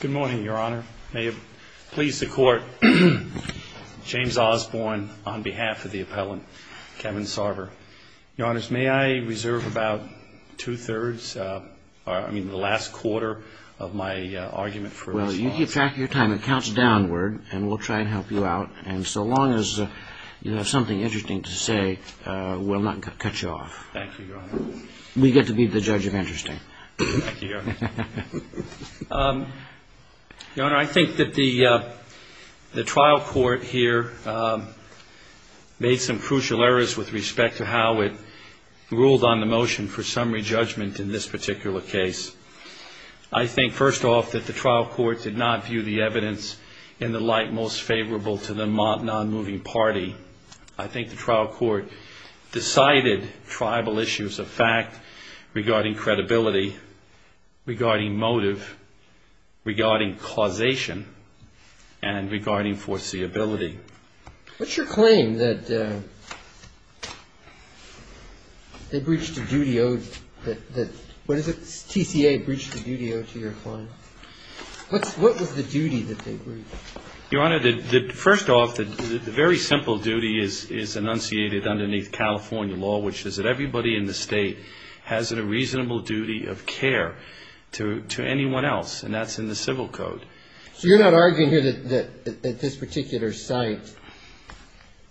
Good morning, Your Honor. May it please the Court, James Osborne on behalf of the appellant, Kevin Sarver. Your Honors, may I reserve about two-thirds, I mean the last quarter of my argument for response? Well, you keep track of your time. It counts downward and we'll try and help you out. And so long as you have something interesting to say, we'll not cut you off. Thank you, Your Honor. We get to be the judge of interesting. Thank you, Your Honor. Your Honor, I think that the trial court here made some crucial errors with respect to how it ruled on the motion for summary judgment in this particular case. I think, first off, that the trial court did not view the evidence in the light most favorable to the non-moving party. I think the trial court decided tribal issues of fact regarding credibility, regarding motive, regarding causation, and regarding foreseeability. What's your claim that they breached a duty owed that, what is it, TCA breached a duty owed to your client? What was the duty that they breached? Your Honor, first off, the very simple duty is enunciated underneath California law, which is that everybody in the state has a reasonable duty of care to anyone else. And that's in the civil code. So you're not arguing here that at this particular site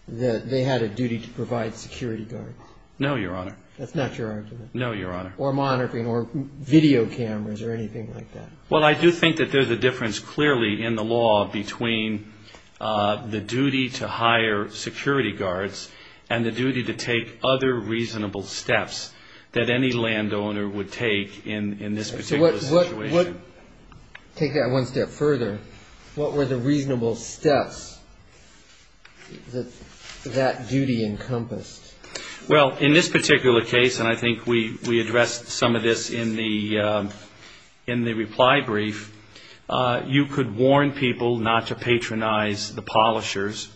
that they had a duty to provide security guards? No, Your Honor. That's not your argument? No, Your Honor. Or monitoring or video cameras or anything like that? Well, I do think that there's a difference clearly in the law between the duty to hire security guards and the duty to take other reasonable steps that any landowner would take in this particular situation. Take that one step further. What were the reasonable steps that that duty encompassed? Well, in this particular case, and I think we addressed some of this in the reply brief, you could warn people not to patronize the polishers.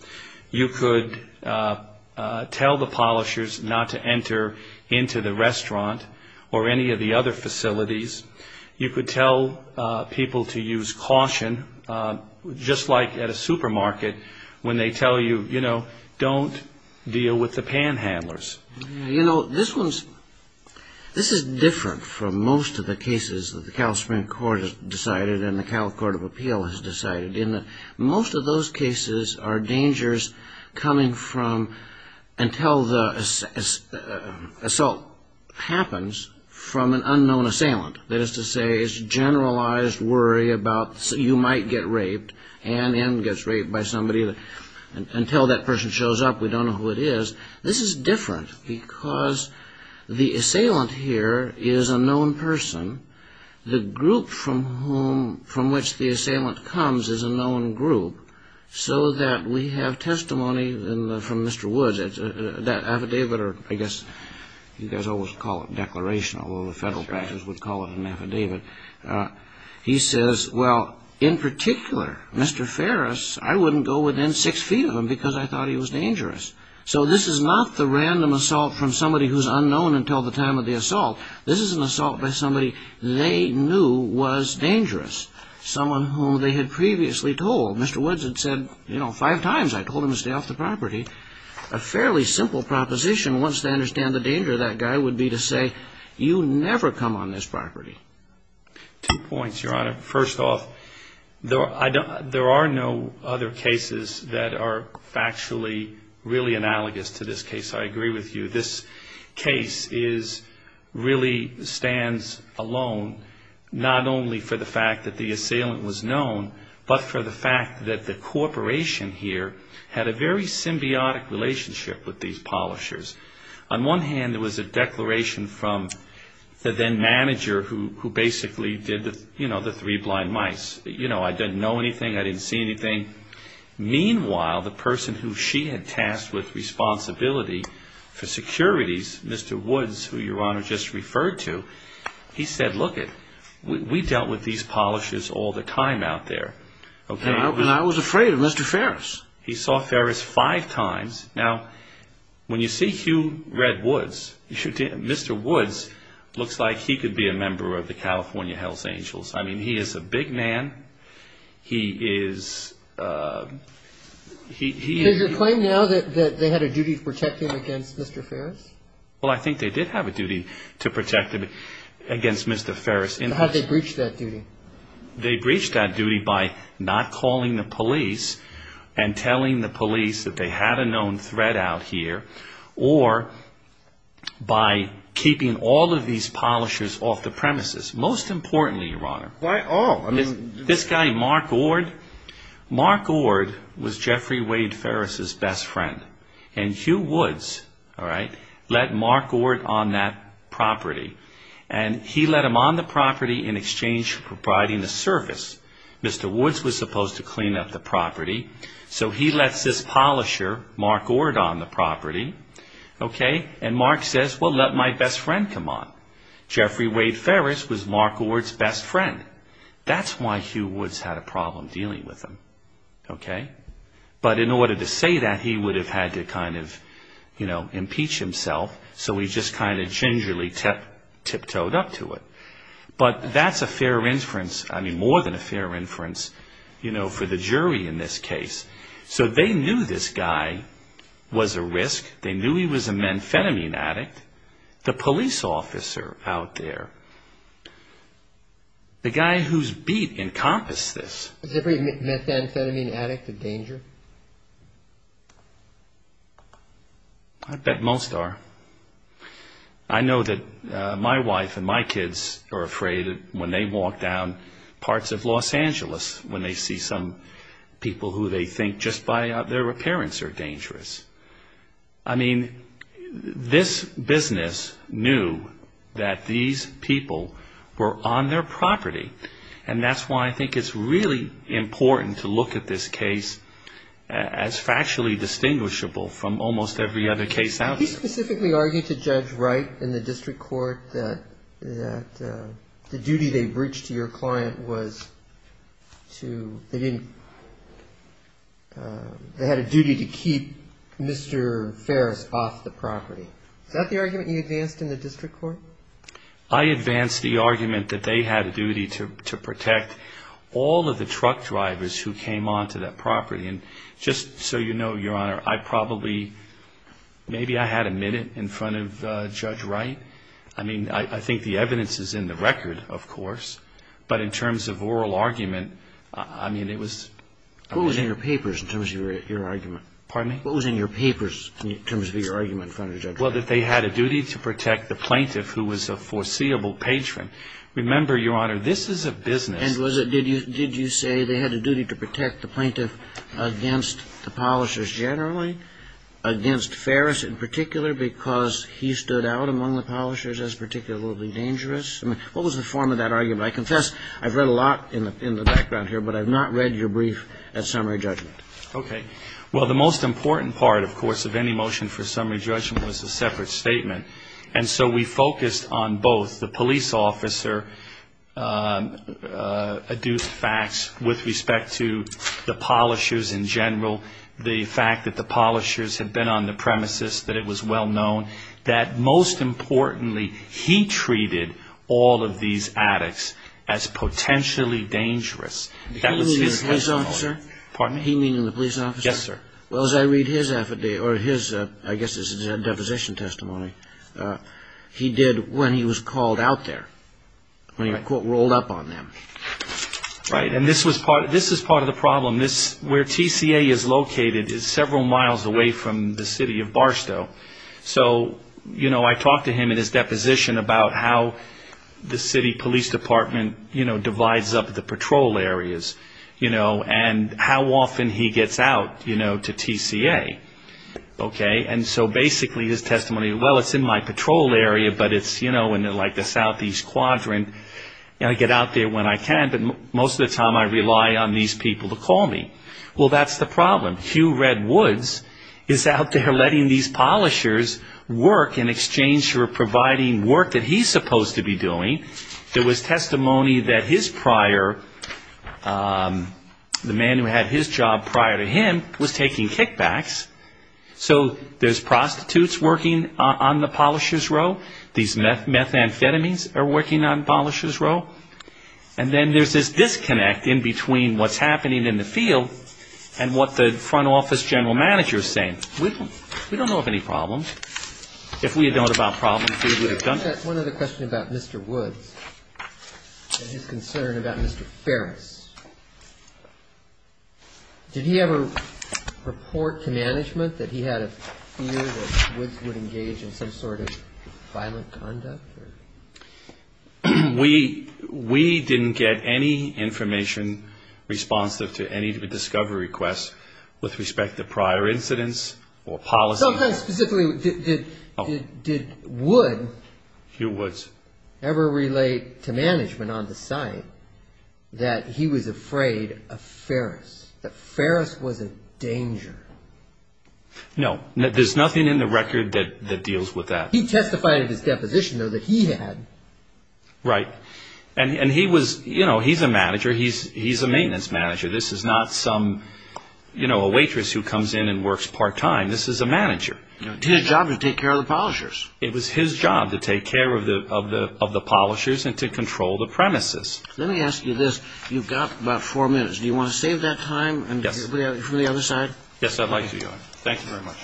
You could tell the polishers not to enter into the restaurant or any of the other facilities. You could tell people to use caution, just like at a supermarket when they tell you, you know, don't deal with the panhandlers. You know, this is different from most of the cases that the California Supreme Court has decided and the California Court of Appeal has decided. Most of those cases are dangers coming from until the assault happens from an unknown assailant. That is to say, it's a generalized worry about you might get raped and the end gets raped by somebody. Until that person shows up, we don't know who it is. This is different because the assailant here is a known person. The group from which the assailant comes is a known group, so that we have testimony from Mr. Woods. That affidavit, or I guess you guys always call it a declaration, although the federal practice would call it an affidavit. He says, well, in particular, Mr. Ferris, I wouldn't go within six feet of him because I thought he was dangerous. So this is not the random assault from somebody who's unknown until the time of the assault. This is an assault by somebody they knew was dangerous, someone whom they had previously told. Mr. Woods had said, you know, five times I told him to stay off the property. A fairly simple proposition, once they understand the danger of that guy, would be to say, you never come on this property. Two points, Your Honor. First off, there are no other cases that are factually really analogous to this case. I agree with you. This case really stands alone, not only for the fact that the assailant was known, but for the fact that the corporation here had a very symbiotic relationship with these polishers. On one hand, there was a declaration from the then manager who basically did the three blind mice. You know, I didn't know anything. I didn't see anything. Meanwhile, the person who she had tasked with responsibility for securities, Mr. Woods, who Your Honor just referred to, he said, look it, we dealt with these polishers all the time out there. And I was afraid of Mr. Ferris. He saw Ferris five times. Now, when you see Hugh Redwoods, Mr. Woods looks like he could be a member of the California Hells Angels. I mean, he is a big man. He is – Does it claim now that they had a duty to protect him against Mr. Ferris? Well, I think they did have a duty to protect him against Mr. Ferris. How did they breach that duty? They breached that duty by not calling the police and telling the police that they had a known threat out here or by keeping all of these polishers off the premises, most importantly, Your Honor. Why all? This guy, Mark Ord, Mark Ord was Jeffrey Wade Ferris' best friend. And Hugh Woods, all right, let Mark Ord on that property. And he let him on the property in exchange for providing a service. Mr. Woods was supposed to clean up the property. So he lets this polisher, Mark Ord, on the property. And Mark says, well, let my best friend come on. Jeffrey Wade Ferris was Mark Ord's best friend. That's why Hugh Woods had a problem dealing with him. But in order to say that, he would have had to kind of impeach himself. So he just kind of gingerly tiptoed up to it. But that's a fair inference, I mean, more than a fair inference, you know, for the jury in this case. So they knew this guy was a risk. They knew he was a methamphetamine addict. The police officer out there, the guy whose beat encompassed this. Was every methamphetamine addict a danger? I bet most are. I know that my wife and my kids are afraid when they walk down parts of Los Angeles, when they see some people who they think just by their appearance are dangerous. I mean, this business knew that these people were on their property. And that's why I think it's really important to look at this case as factually distinguishable from almost every other case out there. He specifically argued to Judge Wright in the district court that the duty they breached to your client was to, they didn't, they had a duty to keep Mr. Ferris off the property. Is that the argument you advanced in the district court? I advanced the argument that they had a duty to protect all of the truck drivers who came onto that property. And just so you know, Your Honor, I probably, maybe I had a minute in front of Judge Wright. I mean, I think the evidence is in the record, of course. But in terms of oral argument, I mean, it was... What was in your papers in terms of your argument? Pardon me? What was in your papers in terms of your argument in front of Judge Wright? Well, that they had a duty to protect the plaintiff who was a foreseeable patron. Remember, Your Honor, this is a business. And was it, did you say they had a duty to protect the plaintiff against the polishers generally, against Ferris in particular because he stood out among the polishers as particularly dangerous? I mean, what was the form of that argument? I confess I've read a lot in the background here, but I've not read your brief at summary judgment. Okay. Well, the most important part, of course, of any motion for summary judgment was a separate statement. And so we focused on both. The police officer adduced facts with respect to the polishers in general, the fact that the polishers had been on the premises, that it was well known, that most importantly he treated all of these addicts as potentially dangerous. He meaning the police officer? Pardon me? He meaning the police officer? Yes, sir. Well, as I read his affidavit, or his, I guess this is a deposition testimony, he did when he was called out there, when he, I quote, rolled up on them. Right. And this was part, this is part of the problem. This, where TCA is located is several miles away from the city of Barstow. So, you know, I talked to him in his deposition about how the city police department, you know, how often he gets out, you know, to TCA. Okay? And so basically his testimony, well, it's in my patrol area, but it's, you know, in like the southeast quadrant, and I get out there when I can, but most of the time I rely on these people to call me. Well, that's the problem. Hugh Redwoods is out there letting these polishers work in exchange for providing work that he's supposed to be doing. There was testimony that his prior, the man who had his job prior to him was taking kickbacks. So there's prostitutes working on the polisher's row. These methamphetamines are working on the polisher's row. And then there's this disconnect in between what's happening in the field and what the front office general manager is saying. We don't know of any problems. If we had known about problems, we would have done that. I've got one other question about Mr. Woods and his concern about Mr. Ferris. Did he ever report to management that he had a fear that Woods would engage in some sort of violent conduct? We didn't get any information responsive to any of the discovery requests with respect to prior incidents or policy. Did Woods ever relate to management on the site that he was afraid of Ferris, that Ferris was a danger? No. There's nothing in the record that deals with that. He testified in his deposition, though, that he had. Right. And he's a manager. He's a maintenance manager. This is not a waitress who comes in and works part-time. This is a manager. It's his job to take care of the polishers. It was his job to take care of the polishers and to control the premises. Let me ask you this. You've got about four minutes. Do you want to save that time and do it from the other side? Yes, I'd like to. Thank you very much.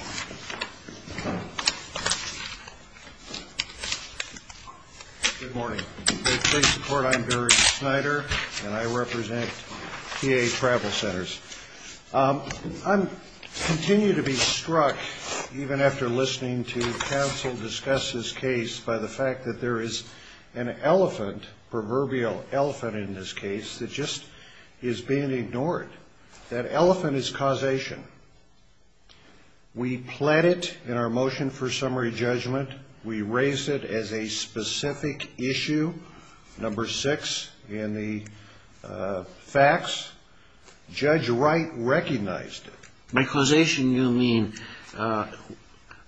Good morning. To show your support, I'm Gary Snyder, and I represent TA Travel Centers. I continue to be struck, even after listening to counsel discuss this case, by the fact that there is an elephant, proverbial elephant in this case, that just is being ignored. That elephant is causation. We pled it in our motion for summary judgment. We raise it as a specific issue, number six in the facts. Judge Wright recognized it. By causation, you mean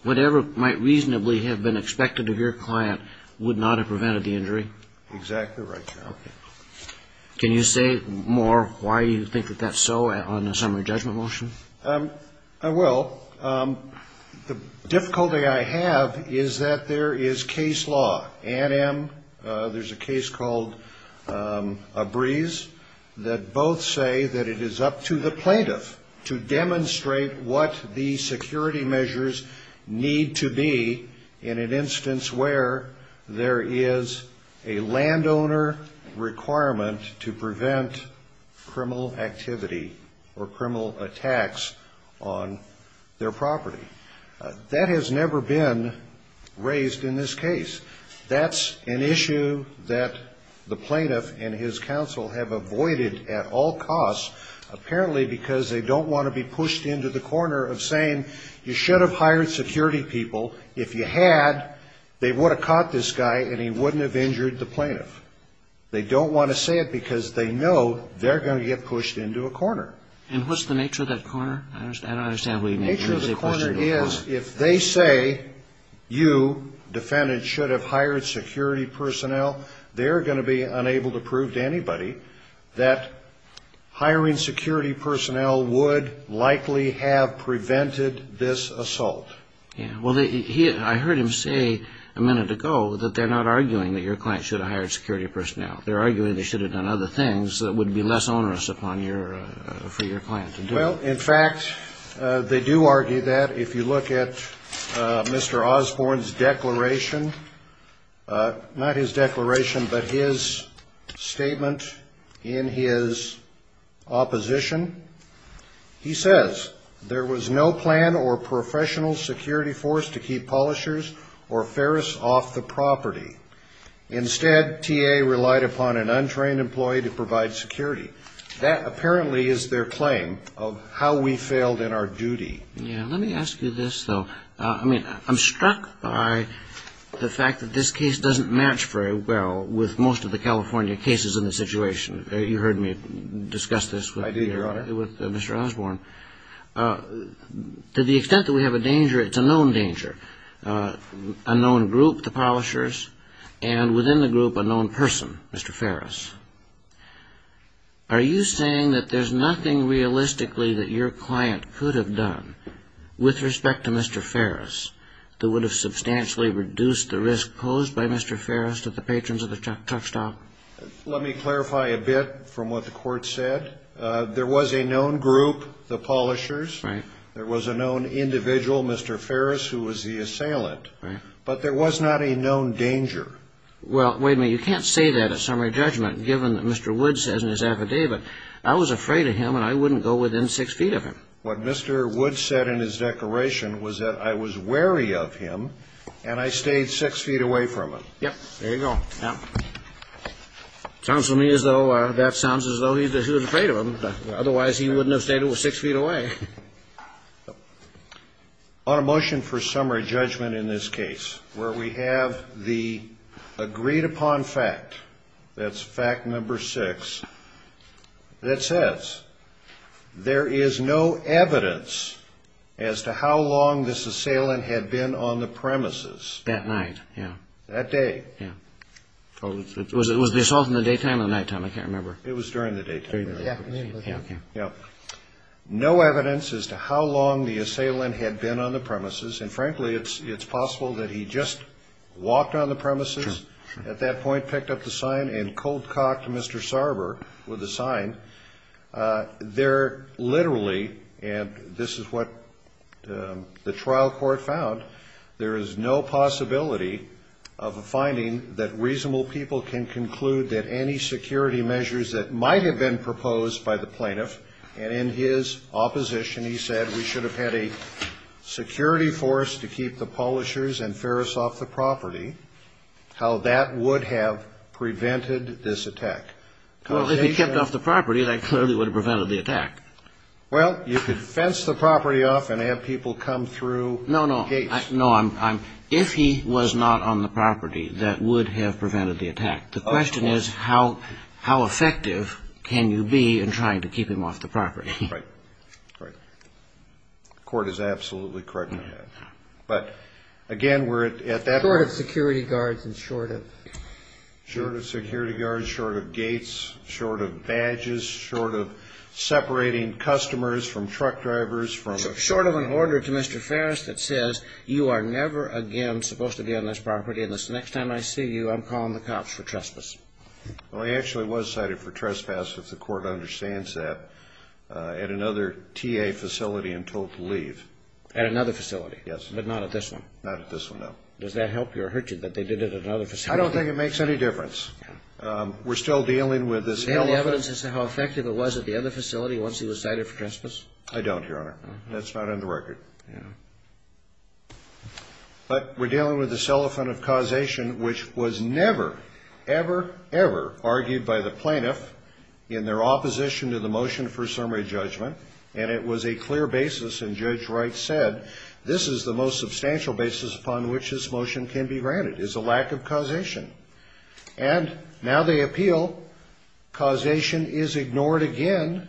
whatever might reasonably have been expected of your client would not have prevented the injury? Exactly right, Your Honor. Okay. Can you say more why you think that that's so on the summary judgment motion? I will. The difficulty I have is that there is case law. There's a case called Abreze that both say that it is up to the plaintiff to demonstrate what the security measures need to be in an instance where there is a landowner requirement to prevent criminal activity or criminal attacks on their property. That has never been raised in this case. That's an issue that the plaintiff and his counsel have avoided at all costs, apparently because they don't want to be pushed into the corner of saying, you should have hired security people. If you had, they would have caught this guy and he wouldn't have injured the plaintiff. They don't want to say it because they know they're going to get pushed into a corner. And what's the nature of that corner? I don't understand what you mean. The nature of the corner is if they say you, defendant, should have hired security personnel, they're going to be unable to prove to anybody that hiring security personnel would likely have prevented this assault. Well, I heard him say a minute ago that they're not arguing that your client should have hired security personnel. They're arguing they should have done other things that would be less onerous for your client to do. Well, in fact, they do argue that. If you look at Mr. Osborne's declaration, not his declaration, but his statement in his opposition, he says, there was no plan or professional security force to keep polishers or ferris off the property. Instead, T.A. relied upon an untrained employee to provide security. That apparently is their claim of how we failed in our duty. Yeah. Let me ask you this, though. I mean, I'm struck by the fact that this case doesn't match very well with most of the California cases in this situation. You heard me discuss this with Mr. Osborne. I did, Your Honor. To the extent that we have a danger, it's a known danger. A known group, the polishers, and within the group, a known person, Mr. Ferris. Are you saying that there's nothing realistically that your client could have done with respect to Mr. Ferris that would have substantially reduced the risk posed by Mr. Ferris to the patrons of the truck stop? Let me clarify a bit from what the court said. There was a known group, the polishers. Right. There was a known individual, Mr. Ferris, who was the assailant. Right. But there was not a known danger. Well, wait a minute. You can't say that at summary judgment, given that Mr. Wood says in his affidavit, I was afraid of him and I wouldn't go within six feet of him. What Mr. Wood said in his declaration was that I was wary of him and I stayed six feet away from him. Yep. There you go. Sounds to me as though that sounds as though he was afraid of him. Otherwise, he wouldn't have stayed six feet away. On a motion for summary judgment in this case where we have the agreed upon fact, that's fact number six, that says there is no evidence as to how long this assailant had been on the premises. That night, yeah. That day. Yeah. Was this all from the daytime or nighttime? It was during the daytime. Yeah. Yeah. No evidence as to how long the assailant had been on the premises. And, frankly, it's possible that he just walked on the premises at that point, picked up the sign, and cold cocked Mr. Sarber with the sign. There literally, and this is what the trial court found, there is no possibility of a finding that reasonable people can conclude that any security measures that might have been proposed by the plaintiff, and in his opposition, he said, we should have had a security force to keep the Polishers and Ferris off the property, how that would have prevented this attack. Well, if he kept off the property, that clearly would have prevented the attack. Well, you could fence the property off and have people come through gates. No, no. If he was not on the property, that would have prevented the attack. The question is how effective can you be in trying to keep him off the property? Right. Right. The court is absolutely correct in that. Yeah. But, again, we're at that point. Short of security guards and short of? Short of security guards, short of gates, short of badges, short of separating customers from truck drivers from... Short of an order to Mr. Ferris that says, you are never again supposed to be on this property unless the next time I see you, I'm calling the cops for trespass. Well, he actually was cited for trespass, if the court understands that, at another TA facility and told to leave. At another facility? Yes. But not at this one? Not at this one, no. Does that help you or hurt you that they did it at another facility? I don't think it makes any difference. We're still dealing with this elephant... Do you have any evidence as to how effective it was at the other facility once he was cited for trespass? I don't, Your Honor. That's not on the record. But we're dealing with this elephant of causation, which was never, ever, ever argued by the plaintiff in their opposition to the motion for summary judgment. And it was a clear basis, and Judge Wright said, this is the most substantial basis upon which this motion can be granted, is a lack of causation. And now they appeal. Causation is ignored again.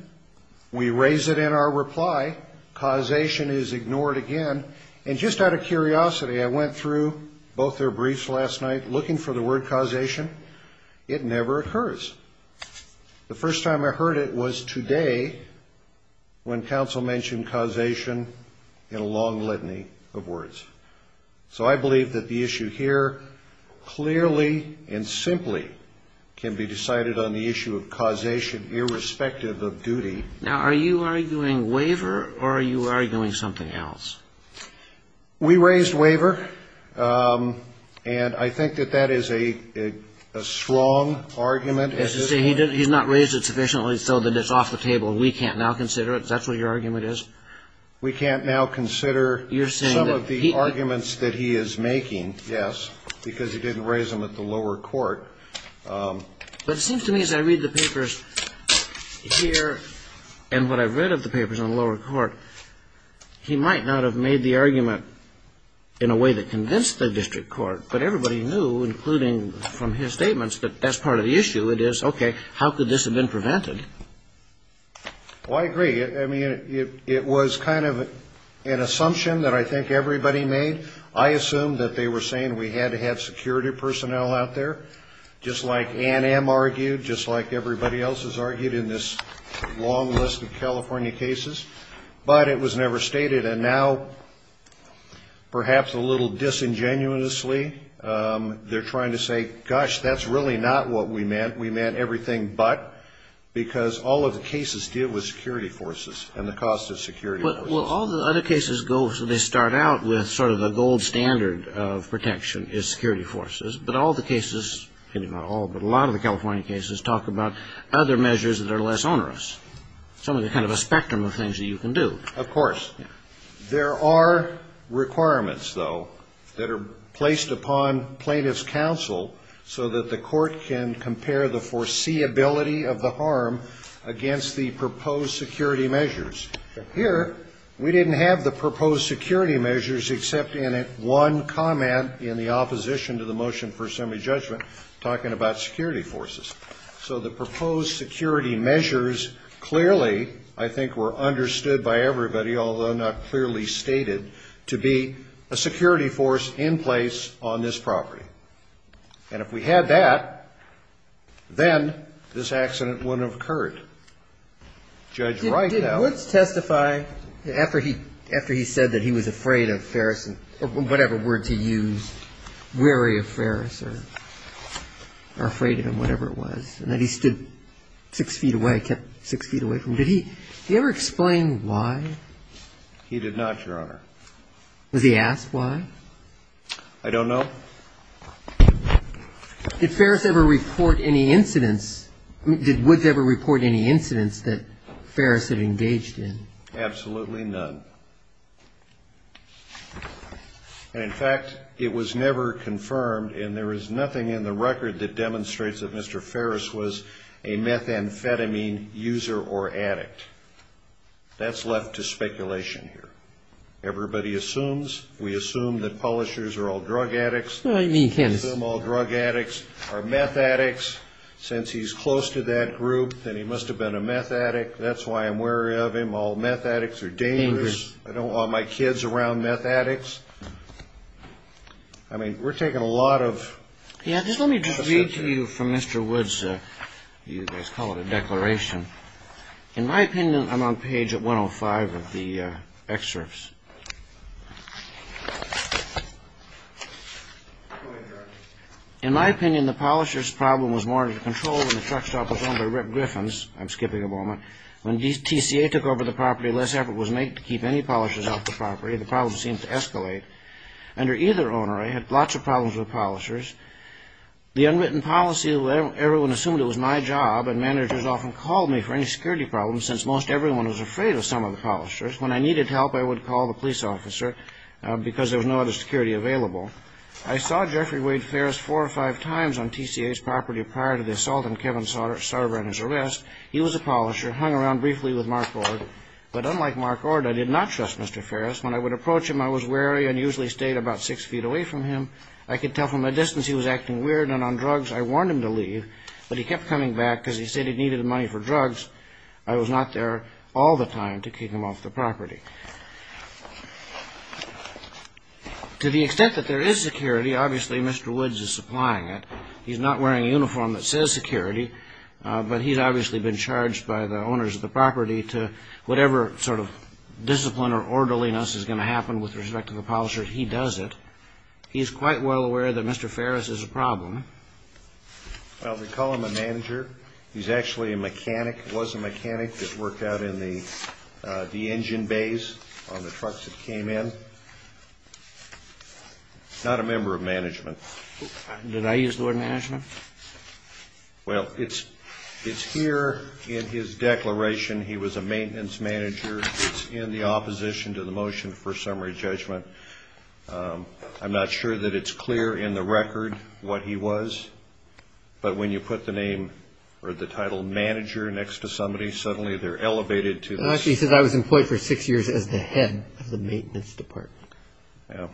We raise it in our reply. Causation is ignored again. And just out of curiosity, I went through both their briefs last night looking for the word causation. It never occurs. The first time I heard it was today when counsel mentioned causation in a long litany of words. So I believe that the issue here clearly and simply can be decided on the issue of causation irrespective of duty. Now, are you arguing waiver or are you arguing something else? We raised waiver. And I think that that is a strong argument. He's not raised it sufficiently so that it's off the table. We can't now consider it. Is that what your argument is? We can't now consider some of the arguments that he is making, yes, because he didn't raise them at the lower court. But it seems to me as I read the papers here and what I've read of the papers on the lower court, he might not have made the argument in a way that convinced the district court. But everybody knew, including from his statements, that that's part of the issue. It is, okay, how could this have been prevented? Well, I agree. I mean, it was kind of an assumption that I think everybody made. I assumed that they were saying we had to have security personnel out there, just like Ann M. argued, just like everybody else has argued in this long list of California cases. But it was never stated. And now, perhaps a little disingenuously, they're trying to say, gosh, that's really not what we meant. We meant everything but, because all of the cases deal with security forces and the cost of security forces. Well, all the other cases go, so they start out with sort of the gold standard of protection is security forces. But all the cases, not all, but a lot of the California cases talk about other measures that are less onerous, some of the kind of a spectrum of things that you can do. Of course. There are requirements, though, that are placed upon plaintiff's counsel so that the court can compare the foreseeability of the harm against the proposed security measures. Here, we didn't have the proposed security measures except in one comment in the opposition to the motion for assembly judgment talking about security forces. So the proposed security measures clearly, I think, were understood by everybody, although not clearly stated, to be a security force in place on this property. And if we had that, then this accident wouldn't have occurred. Did Woods testify after he said that he was afraid of Ferris, or whatever word to use, weary of Ferris or afraid of him, whatever it was, and that he stood six feet away, kept six feet away from him, did he ever explain why? He did not, Your Honor. Was he asked why? I don't know. Did Ferris ever report any incidents? I mean, did Woods ever report any incidents that Ferris had engaged in? Absolutely none. And, in fact, it was never confirmed, and there is nothing in the record that demonstrates that Mr. Ferris was a methamphetamine user or addict. That's left to speculation here. Everybody assumes. We assume that polishers are all drug addicts. We assume all drug addicts are meth addicts. Since he's close to that group, then he must have been a meth addict. That's why I'm wary of him. All meth addicts are dangerous. I don't want my kids around meth addicts. I mean, we're taking a lot of suspicion. Let me just read to you from Mr. Woods' you guys call it a declaration. In my opinion, I'm on page 105 of the excerpts. In my opinion, the polisher's problem was more under control when the truck stop was owned by Rip Griffins. I'm skipping a moment. When TCA took over the property, less effort was made to keep any polishers off the property. The problem seemed to escalate. Under either owner, I had lots of problems with polishers. The unwritten policy, everyone assumed it was my job, and managers often called me for any security problems since most everyone was afraid of some of the polishers. When I needed help, I would call the police officer because there was no other security available. I saw Jeffrey Wade Ferris four or five times on TCA's property prior to the assault on Kevin Sarver and his arrest. He was a polisher, hung around briefly with Mark Ord. But unlike Mark Ord, I did not trust Mr. Ferris. When I would approach him, I was wary and usually stayed about six feet away from him. I could tell from a distance he was acting weird, and on drugs, I warned him to leave. But he kept coming back because he said he needed money for drugs. I was not there all the time to kick him off the property. To the extent that there is security, obviously Mr. Woods is supplying it. He's not wearing a uniform that says security, but he's obviously been charged by the owners of the property to whatever sort of discipline or orderliness is going to happen with respect to the polisher, he does it. He's quite well aware that Mr. Ferris is a problem. Well, they call him a manager. He's actually a mechanic, was a mechanic that worked out in the engine bays on the trucks that came in. Not a member of management. Did I use the word management? Well, it's here in his declaration he was a maintenance manager. It's in the opposition to the motion for summary judgment. I'm not sure that it's clear in the record what he was. But when you put the name or the title manager next to somebody, suddenly they're elevated to this. Actually, he says I was employed for six years as the head of the maintenance department. Yeah.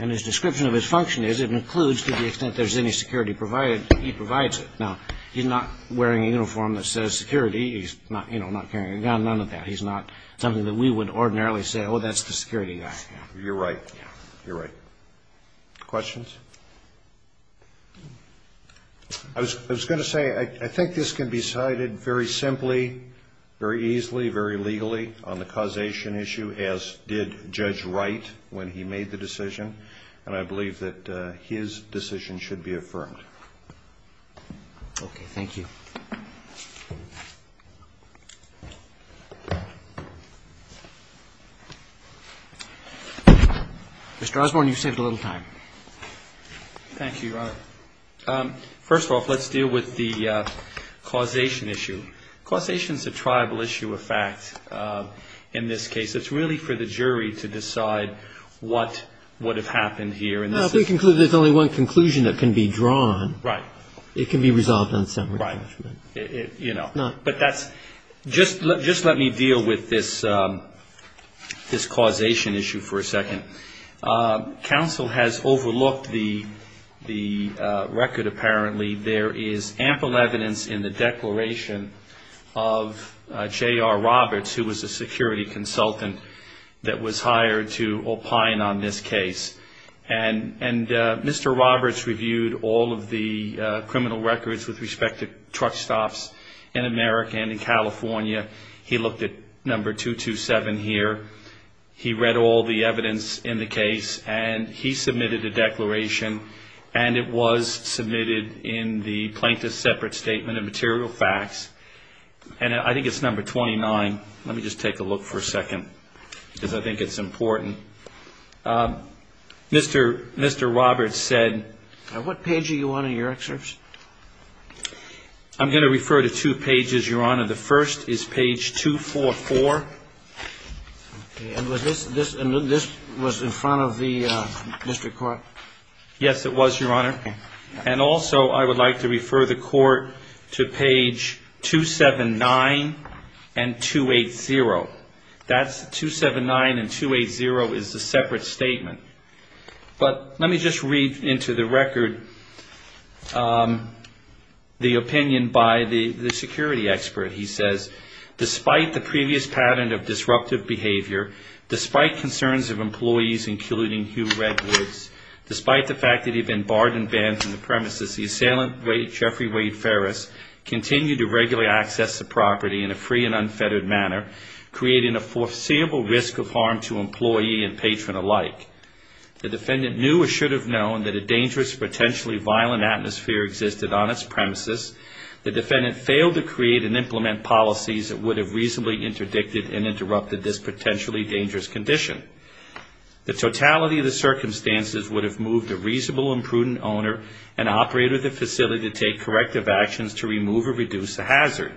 And his description of his function is it includes, to the extent there's any security provided, he provides it. Now, he's not wearing a uniform that says security. None of that. He's not something that we would ordinarily say, oh, that's the security guy. You're right. You're right. Questions? I was going to say I think this can be cited very simply, very easily, very legally on the causation issue, as did Judge Wright when he made the decision, and I believe that his decision should be affirmed. Okay. Thank you. Mr. Osborne, you've saved a little time. Thank you, Your Honor. First off, let's deal with the causation issue. Causation is a tribal issue of fact in this case. It's really for the jury to decide what would have happened here. Well, if we conclude there's only one conclusion that can be drawn, it can be resolved in a separate judgment. Right. You know. But that's just let me deal with this causation issue for a second. Counsel has overlooked the record, apparently. There is ample evidence in the declaration of J.R. Roberts, who was a security consultant that was hired to opine on this case. And Mr. Roberts reviewed all of the criminal records with respect to truck stops in America and in California. He looked at number 227 here. He read all the evidence in the case, and he submitted a declaration, and it was submitted in the Plaintiff's Separate Statement of Material Facts. And I think it's number 29. Let me just take a look for a second because I think it's important. Mr. Roberts said. What page are you on in your excerpts? I'm going to refer to two pages, Your Honor. The first is page 244. And this was in front of the district court? Yes, it was, Your Honor. And also I would like to refer the court to page 279 and 280. That's 279 and 280 is the separate statement. But let me just read into the record the opinion by the security expert. He says, despite the previous pattern of disruptive behavior, despite concerns of employees including Hugh Redwoods, despite the fact that he had been barred and banned from the premises, the assailant, Jeffrey Wade Ferris, continued to regularly access the property in a free and unfettered manner, creating a foreseeable risk of harm to employee and patron alike. The defendant knew or should have known that a dangerous, potentially violent atmosphere existed on its premises. The defendant failed to create and implement policies that would have reasonably interdicted and interrupted this potentially dangerous condition. The totality of the circumstances would have moved a reasonable and prudent owner and operator of the facility to take corrective actions to remove or reduce the hazard.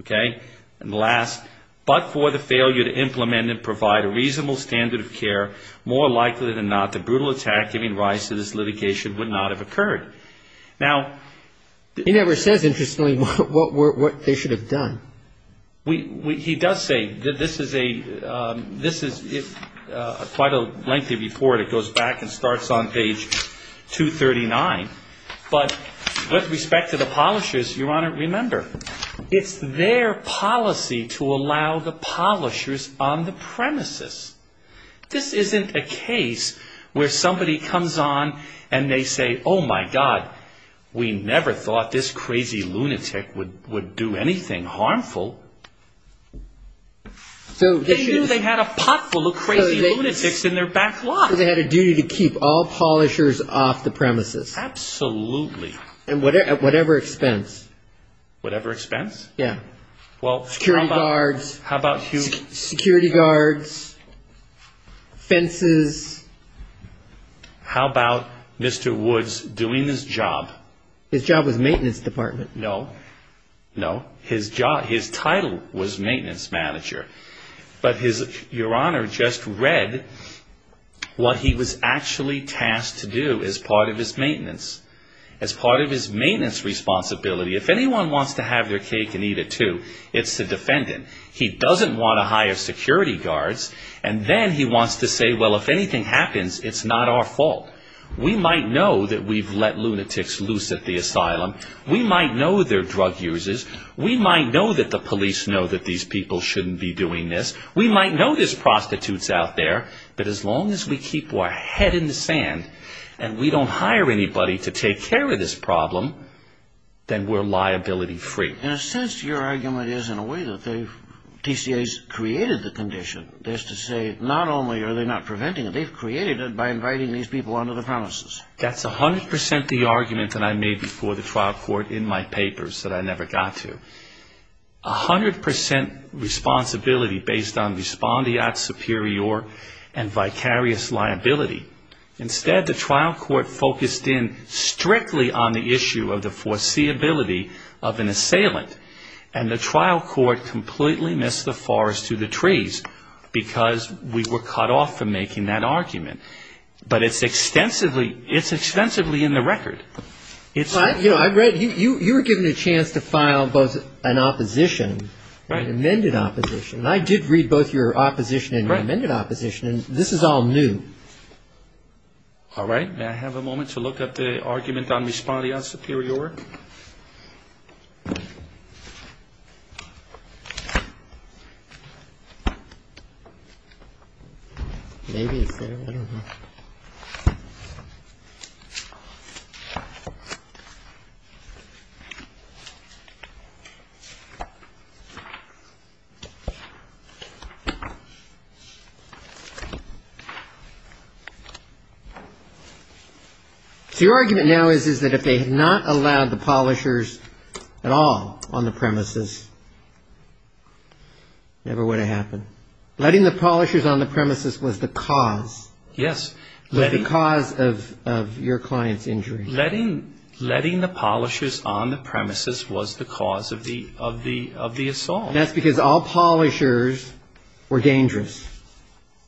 Okay? And last, but for the failure to implement and provide a reasonable standard of care, more likely than not, the brutal attack giving rise to this litigation would not have occurred. Now, He never says, interestingly, what they should have done. He does say that this is quite a lengthy report. It goes back and starts on page 239. But with respect to the polishers, Your Honor, remember, it's their policy to allow the polishers on the premises. This isn't a case where somebody comes on and they say, Oh, my God, we never thought this crazy lunatic would do anything harmful. They knew they had a pot full of crazy lunatics in their back lot. They had a duty to keep all polishers off the premises. Absolutely. At whatever expense. Whatever expense? Yeah. Security guards, fences. How about Mr. Woods doing his job? His job was maintenance department. No. No. His job, his title was maintenance manager. But his, Your Honor, just read what he was actually tasked to do as part of his maintenance. As part of his maintenance responsibility. If anyone wants to have their cake and eat it too, it's the defendant. He doesn't want to hire security guards. And then he wants to say, Well, if anything happens, it's not our fault. We might know that we've let lunatics loose at the asylum. We might know they're drug users. We might know that the police know that these people shouldn't be doing this. We might know there's prostitutes out there. But as long as we keep our head in the sand and we don't hire anybody to take care of this problem, then we're liability free. Your Honor, in a sense, your argument is in a way that the TCA's created the condition. That is to say, not only are they not preventing it, they've created it by inviting these people onto the premises. That's 100% the argument that I made before the trial court in my papers that I never got to. 100% responsibility based on respondeat superior and vicarious liability. Instead, the trial court focused in strictly on the issue of the foreseeability of an assailant. And the trial court completely missed the forest to the trees because we were cut off from making that argument. But it's extensively in the record. You were given a chance to file both an opposition, an amended opposition. And I did read both your opposition and your amended opposition. And this is all new. All right. May I have a moment to look at the argument on respondeat superior? Your argument now is that if they had not allowed the polishers at all on the premises, never would have happened. Letting the polishers on the premises was the cause. Yes. The cause of your client's injury. Letting the polishers on the premises was the cause of the assault. That's because all polishers were dangerous.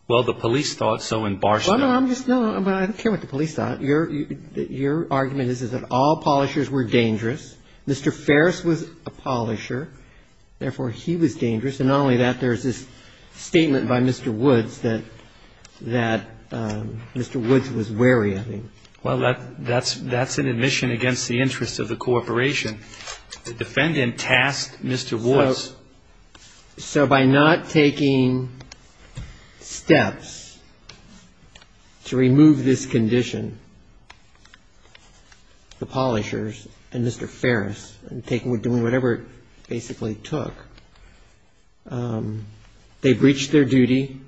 Well, the police thought so in Barstow. No, I don't care what the police thought. Your argument is that all polishers were dangerous. Mr. Ferris was a polisher. Therefore, he was dangerous. And not only that, there's this statement by Mr. Woods that Mr. Woods was wary of him. Well, that's an admission against the interests of the corporation. The defendant tasked Mr. Woods. So by not taking steps to remove this condition, the polishers and Mr. Ferris, and doing whatever it basically took, they breached their duty,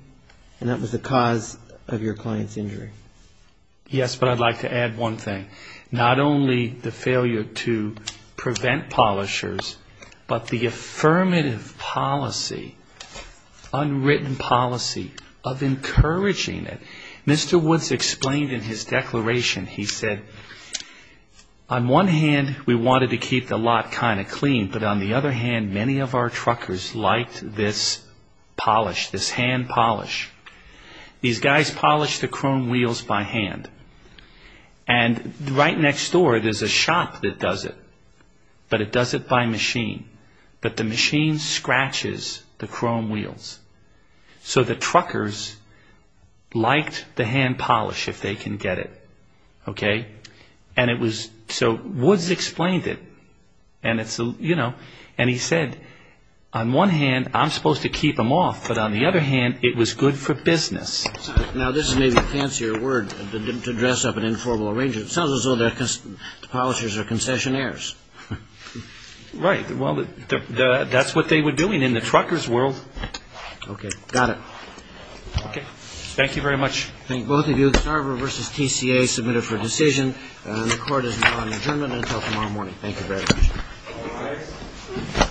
and that was the cause of your client's injury. Yes, but I'd like to add one thing. Not only the failure to prevent polishers, but the affirmative policy, unwritten policy of encouraging it. Mr. Woods explained in his declaration. He said, on one hand, we wanted to keep the lot kind of clean, but on the other hand, many of our truckers liked this polish, this hand polish. These guys polished the chrome wheels by hand. And right next door, there's a shop that does it. But it does it by machine. But the machine scratches the chrome wheels. So the truckers liked the hand polish, if they can get it. So Woods explained it. And he said, on one hand, I'm supposed to keep them off, but on the other hand, it was good for business. Now, this is maybe a fancier word to dress up an informal arranger. It sounds as though the polishers are concessionaires. Right. Well, that's what they were doing in the truckers' world. Okay. Got it. Okay. Thank you very much. Thank both of you. Starver v. TCA, submitted for decision. And the Court is now on adjournment until tomorrow morning. Thank you very much.